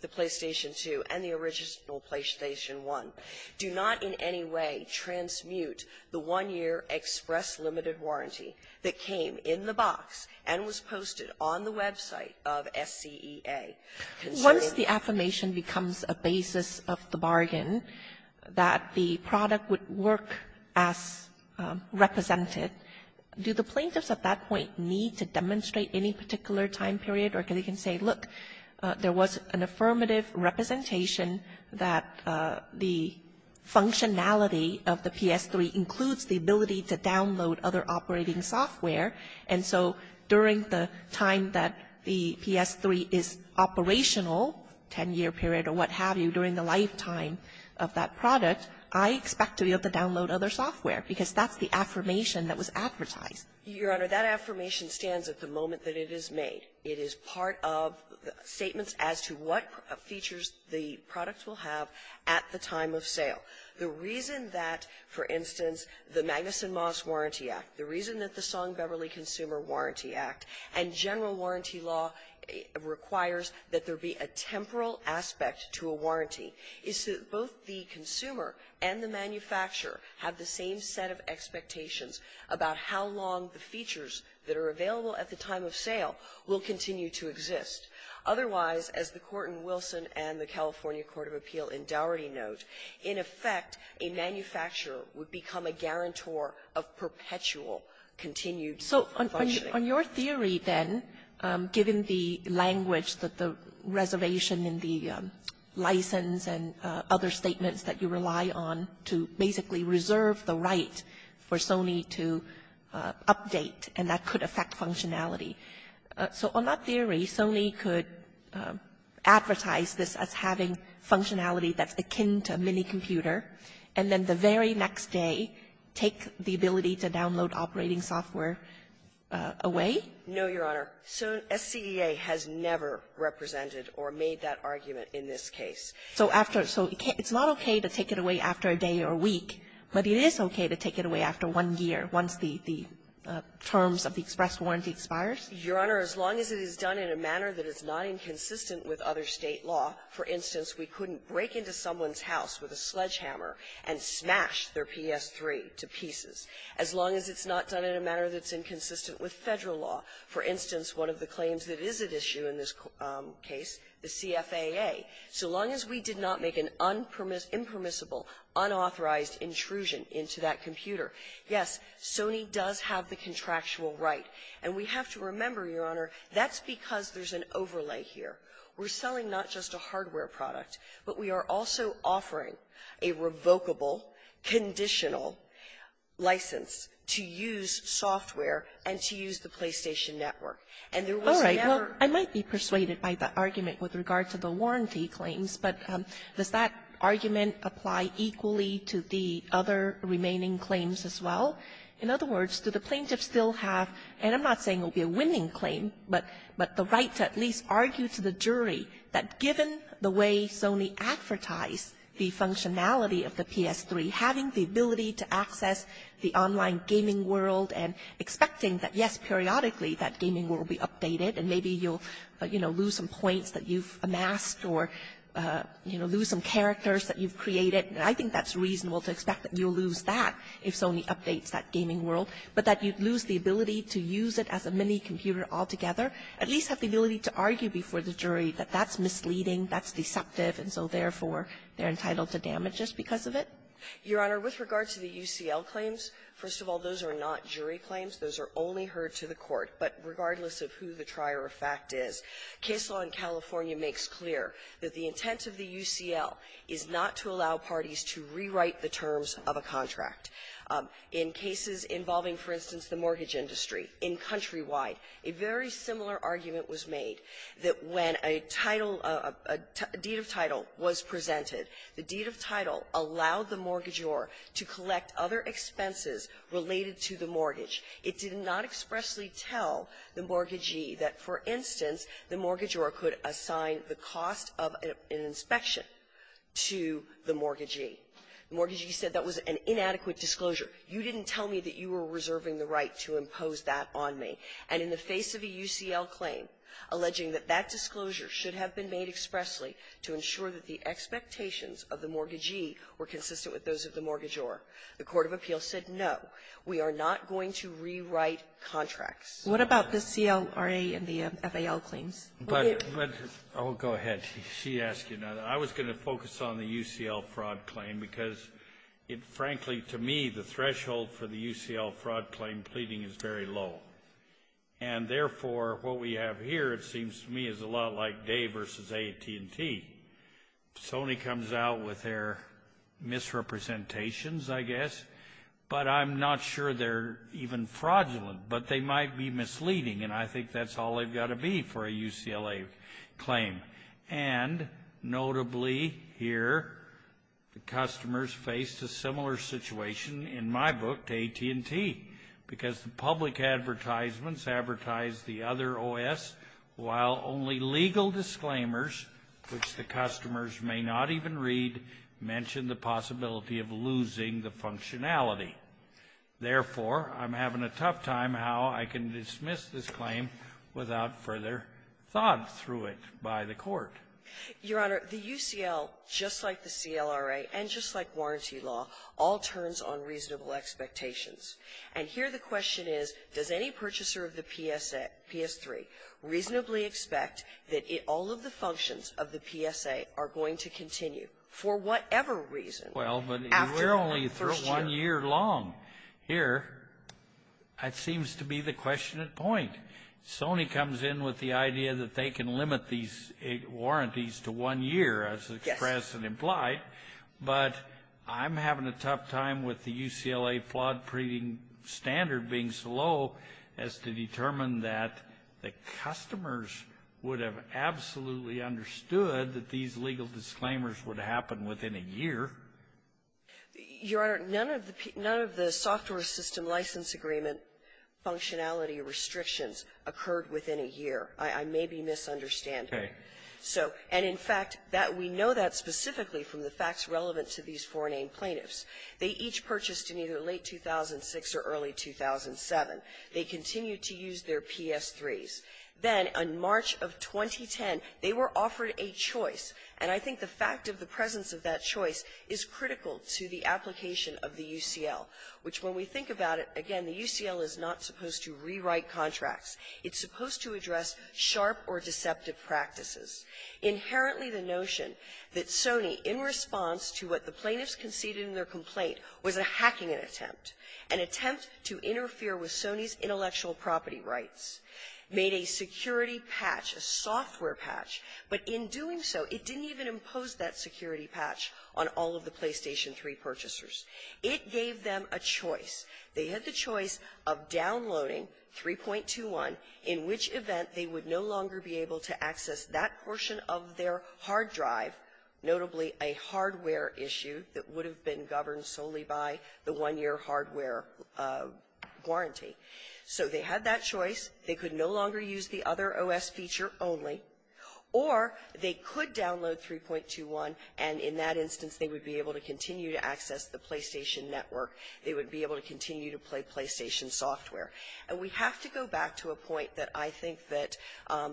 the original PlayStation 1. Do not in any way transmute the one-year express limited warranty that came in the box and was posted on the website of SCEA. Sotomayor, once the affirmation becomes a basis of the bargain, that the product would work as represented, do the plaintiffs at that point need to demonstrate any particular time period? Or can they say, look, there was an affirmative representation that the functionality of the PS3 includes the ability to download other operating software. And so during the time that the PS3 is operational, 10-year period or what have you, during the lifetime of that product, I expect to be able to download other software, because that's the affirmation that was advertised. Your Honor, that affirmation stands at the moment that it is made. It is part of statements as to what features the product will have at the time of sale. The reason that, for instance, the Magnuson-Moss Warranty Act, the reason that the Song-Beverly Consumer Warranty Act and general warranty law requires that there be a temporal aspect to a warranty is so that both the consumer and the manufacturer have the same set of expectations about how long the features that are available at the time of sale will continue to exist. Otherwise, as the Court in Wilson and the California Court of Appeal in Dougherty note, in effect, a manufacturer would become a guarantor of perpetual continued functionality. Kagan. So on your theory, then, given the language that the reservation in the license and other statements that you rely on to basically reserve the right for Sony to update, and that could affect functionality, so on that theory, Sony could advertise this as having functionality that's akin to a minicomputer, and then the very next day take the ability to download operating software away? No, Your Honor. SCEA has never represented or made that argument in this case. So after so it's not okay to take it away after a day or a week, but it is okay to take it away after one year, once the terms of the express warranty expires? Your Honor, as long as it is done in a manner that is not inconsistent with other State law, for instance, we couldn't break into someone's house with a sledgehammer and smash their PS-3 to pieces. As long as it's not done in a manner that's inconsistent with Federal law, for instance, one of the claims that is at issue in this case, the CFAA, so long as we did not make an impermissible, unauthorized intrusion into that computer, yes, Sony does have the contractual right. And we have to remember, Your Honor, that's because there's an overlay here. We're selling not just a hardware product, but we are also offering a revocable, conditional license to use software and to use the PlayStation Network. And there is no way that we can break into someone's house with a sledgehammer and smash their PS-3 to pieces. All right. Well, I might be persuaded by the argument with regard to the warranty claims, but does that argument apply equally to the other remaining claims as well? In other words, do the plaintiffs still have, and I'm not saying it will be a winning claim, but the right to at least argue to the jury that given the way Sony advertised the functionality of the PS-3, having the ability to access the online gaming world and expecting that, yes, periodically that gaming world will be updated, and maybe you'll lose some points that you've amassed or lose some characters that you've created, and I think that's reasonable to expect that you'll lose that if Sony updates that gaming world, but that you'd lose the ability to use it as a mini computer altogether, at least have the ability to argue before the jury that that's they're entitled to damage just because of it? Your Honor, with regard to the UCL claims, first of all, those are not jury claims. Those are only heard to the court. But regardless of who the trier of fact is, case law in California makes clear that the intent of the UCL is not to allow parties to rewrite the terms of a contract. In cases involving, for instance, the mortgage industry, in Countrywide, a very similar argument was made that when a title, a deed of title was presented, it was not to allow The deed of title allowed the mortgagor to collect other expenses related to the mortgage. It did not expressly tell the mortgagee that, for instance, the mortgagor could assign the cost of an inspection to the mortgagee. The mortgagee said that was an inadequate disclosure. You didn't tell me that you were reserving the right to impose that on me. And in the face of a UCL claim alleging that that disclosure should have been made expressly to ensure that the expectations of the mortgagee were consistent with those of the mortgagor, the court of appeals said, no, we are not going to rewrite contracts. Kagan. What about the CLRA and the FAL claims? Kennedy. But go ahead. She asked you. Now, I was going to focus on the UCL fraud claim because it, frankly, to me, the threshold for the UCL fraud claim pleading is very low. And therefore, what we have here, it seems to me, is a lot like Day versus AT&T. Sony comes out with their misrepresentations, I guess, but I'm not sure they're even fraudulent, but they might be misleading. And I think that's all they've got to be for a UCLA claim. And notably here, the customers faced a similar situation in my book to AT&T because the public advertisements advertise the other OS while only legal disclaimers, which the customers may not even read, mention the possibility of losing the functionality. Therefore, I'm having a tough time how I can dismiss this claim without further thought through it by the court. Your Honor, the UCL, just like the CLRA and just like warranty law, all turns on reasonable expectations. And here the question is, does any purchaser of the PSA, PS3, reasonably expect that all of the functions of the PSA are going to continue for whatever reason after the first year? Well, but we're only one year long here. That seems to be the question at point. Sony comes in with the idea that they can limit these warranties to one year as expressed and implied. But I'm having a tough time with the UCLA flawed-printing standard being so low as to determine that the customers would have absolutely understood that these legal disclaimers would happen within a year. Your Honor, none of the software system license agreement functionality restrictions occurred within a year. I may be misunderstanding. Okay. So, and in fact, that we know that specifically from the facts relevant to these foreign-aimed plaintiffs. They each purchased in either late 2006 or early 2007. They continued to use their PS3s. Then, in March of 2010, they were offered a choice. And I think the fact of the presence of that choice is critical to the application of the UCL, which when we think about it, again, the UCL is not supposed to rewrite contracts. It's supposed to address sharp or deceptive practices. Inherently, the notion that Sony, in response to what the plaintiffs conceded in their complaint, was a hacking attempt, an attempt to interfere with Sony's intellectual property rights, made a security patch, a software patch. But in doing so, it didn't even impose that security patch on all of the PlayStation 3 purchasers. It gave them a choice. They had the choice of downloading 3.21, in which event they would no longer be able to access that portion of their hard drive, notably a hardware issue that would have been governed solely by the one-year hardware warranty. So they had that choice. They could no longer use the other OS feature only. Or they could download 3.21, and in that instance, they would be able to continue to access the PlayStation network. They would be able to continue to play PlayStation software. And we have to go back to a point that I think that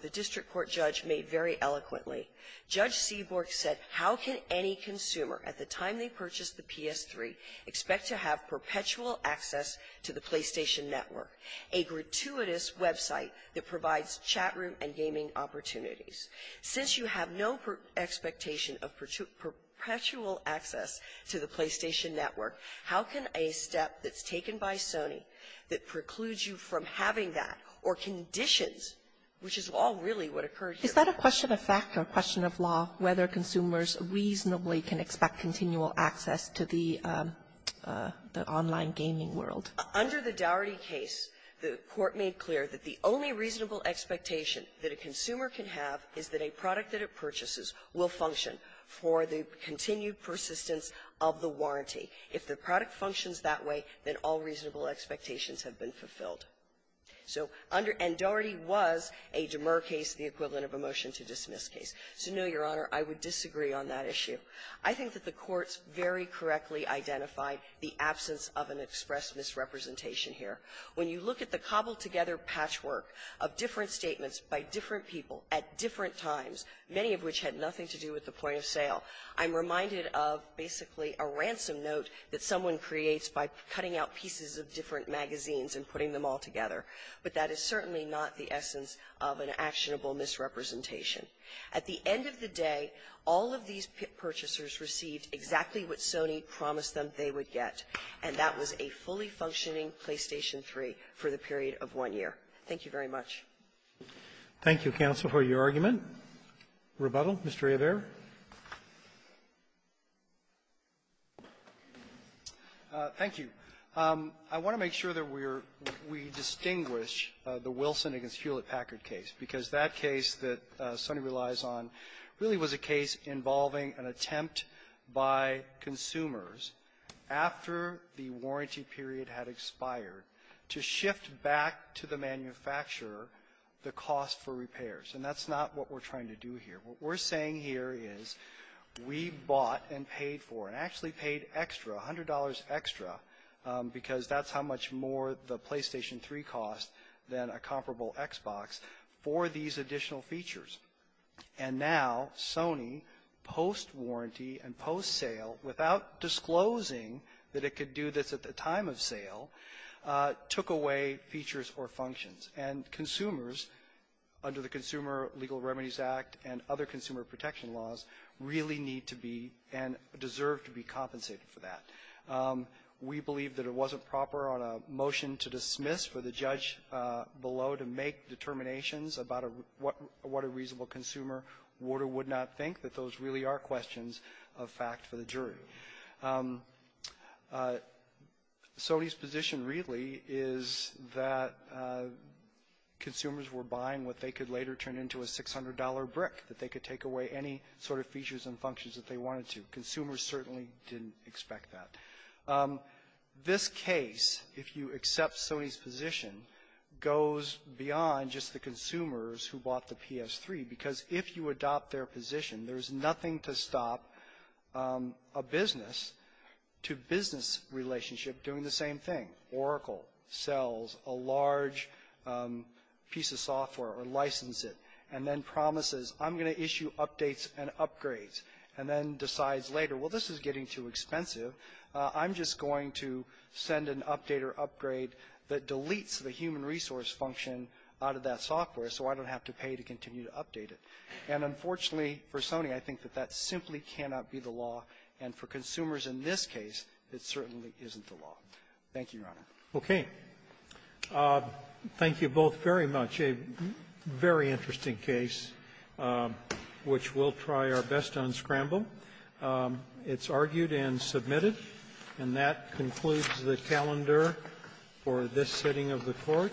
the district court judge made very eloquently. Judge Seaborg said, how can any consumer, at the time they purchased the PS3, expect to have perpetual access to the PlayStation network, a gratuitous website that provides chatroom and gaming opportunities? Since you have no expectation of perpetual access to the PlayStation network, how can a step that's taken by Sony that precludes you from having that, or conditions, which is all really what occurred here? Is that a question of fact or a question of law, whether consumers reasonably can expect continual access to the online gaming world? Under the Dougherty case, the court made clear that the only reasonable expectation that a consumer can have is that a product that it purchases will function for the continued persistence of the warranty. If the product functions that way, then all reasonable expectations have been fulfilled. So under — and Dougherty was a demer case, the equivalent of a motion-to-dismiss case. So, no, Your Honor, I would disagree on that issue. I think that the courts very correctly identified the absence of an express misrepresentation here. When you look at the cobbled-together patchwork of different statements by different people at different times, many of which had nothing to do with the point of sale, I'm reminded of basically a ransom note that someone creates by cutting out pieces of different magazines and putting them all together. But that is certainly not the essence of an actionable misrepresentation. At the end of the day, all of these purchasers received exactly what Sony promised them they would get, and that was a fully functioning PlayStation 3 for the period of one year. Thank you very much. Roberts. Thank you, counsel, for your argument. Rebuttal. Mr. Averro. Averro. Thank you. I want to make sure that we're — we distinguish the Wilson v. Hewlett-Packard case, because that case that Sony relies on really was a case involving an attempt by consumers after the warranty period had expired to shift back to the manufacturer the cost for repairs. And that's not what we're trying to do here. What we're saying here is we bought and paid for, and actually paid extra, $100 extra, because that's how much more the PlayStation 3 cost than a comparable Xbox, for these additional features. And now Sony, post-warranty and post-sale, without disclosing that it could do this at the time of sale, took away features or functions. And consumers, under the Consumer Legal Remedies Act and other consumer protection laws, really need to be and deserve to be compensated for that. We believe that it wasn't proper on a motion to dismiss for the judge below to make determinations about what a reasonable consumer would or would not think, that Sony's position really is that consumers were buying what they could later turn into a $600 brick, that they could take away any sort of features and functions that they wanted to. Consumers certainly didn't expect that. This case, if you accept Sony's position, goes beyond just the consumers who bought the PS3. Because if you adopt their position, there's nothing to stop a business-to-business relationship doing the same thing. Oracle sells a large piece of software or licenses it, and then promises, I'm going to issue updates and upgrades, and then decides later, well, this is getting too expensive. I'm just going to send an update or upgrade that deletes the human resource function out of that software so I don't have to pay to continue to update it. And unfortunately for Sony, I think that that simply cannot be the law. And for consumers in this case, it certainly isn't the law. Thank you, Your Honor. Roberts. Okay. Thank you both very much. A very interesting case, which we'll try our best to unscramble. It's argued and submitted. And that concludes the calendar for this sitting of the Court. Thank you.